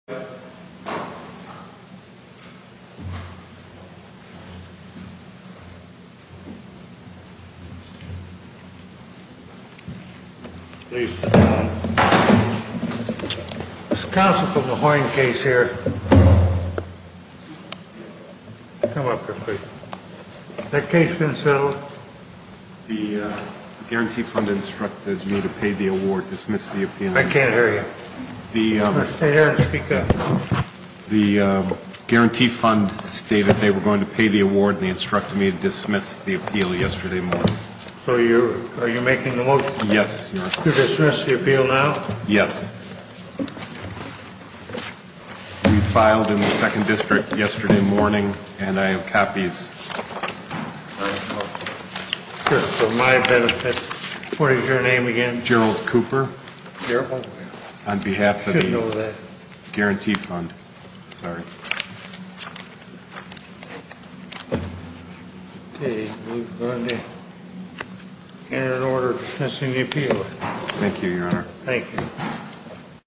Council from the Huyen case here. Come up here, please. Has that case been settled? The Guarantee Fund instructed me to pay the award, dismiss the opinion. I can't hear you. The Guarantee Fund stated they were going to pay the award and they instructed me to dismiss the appeal yesterday morning. So are you making the motion to dismiss the appeal now? Yes. We filed in the Second District yesterday morning and I have copies. For my benefit, what is your name again? I'm General Cooper on behalf of the Guarantee Fund. We've gone to enter an order dismissing the appeal. Thank you, Your Honor. Thank you.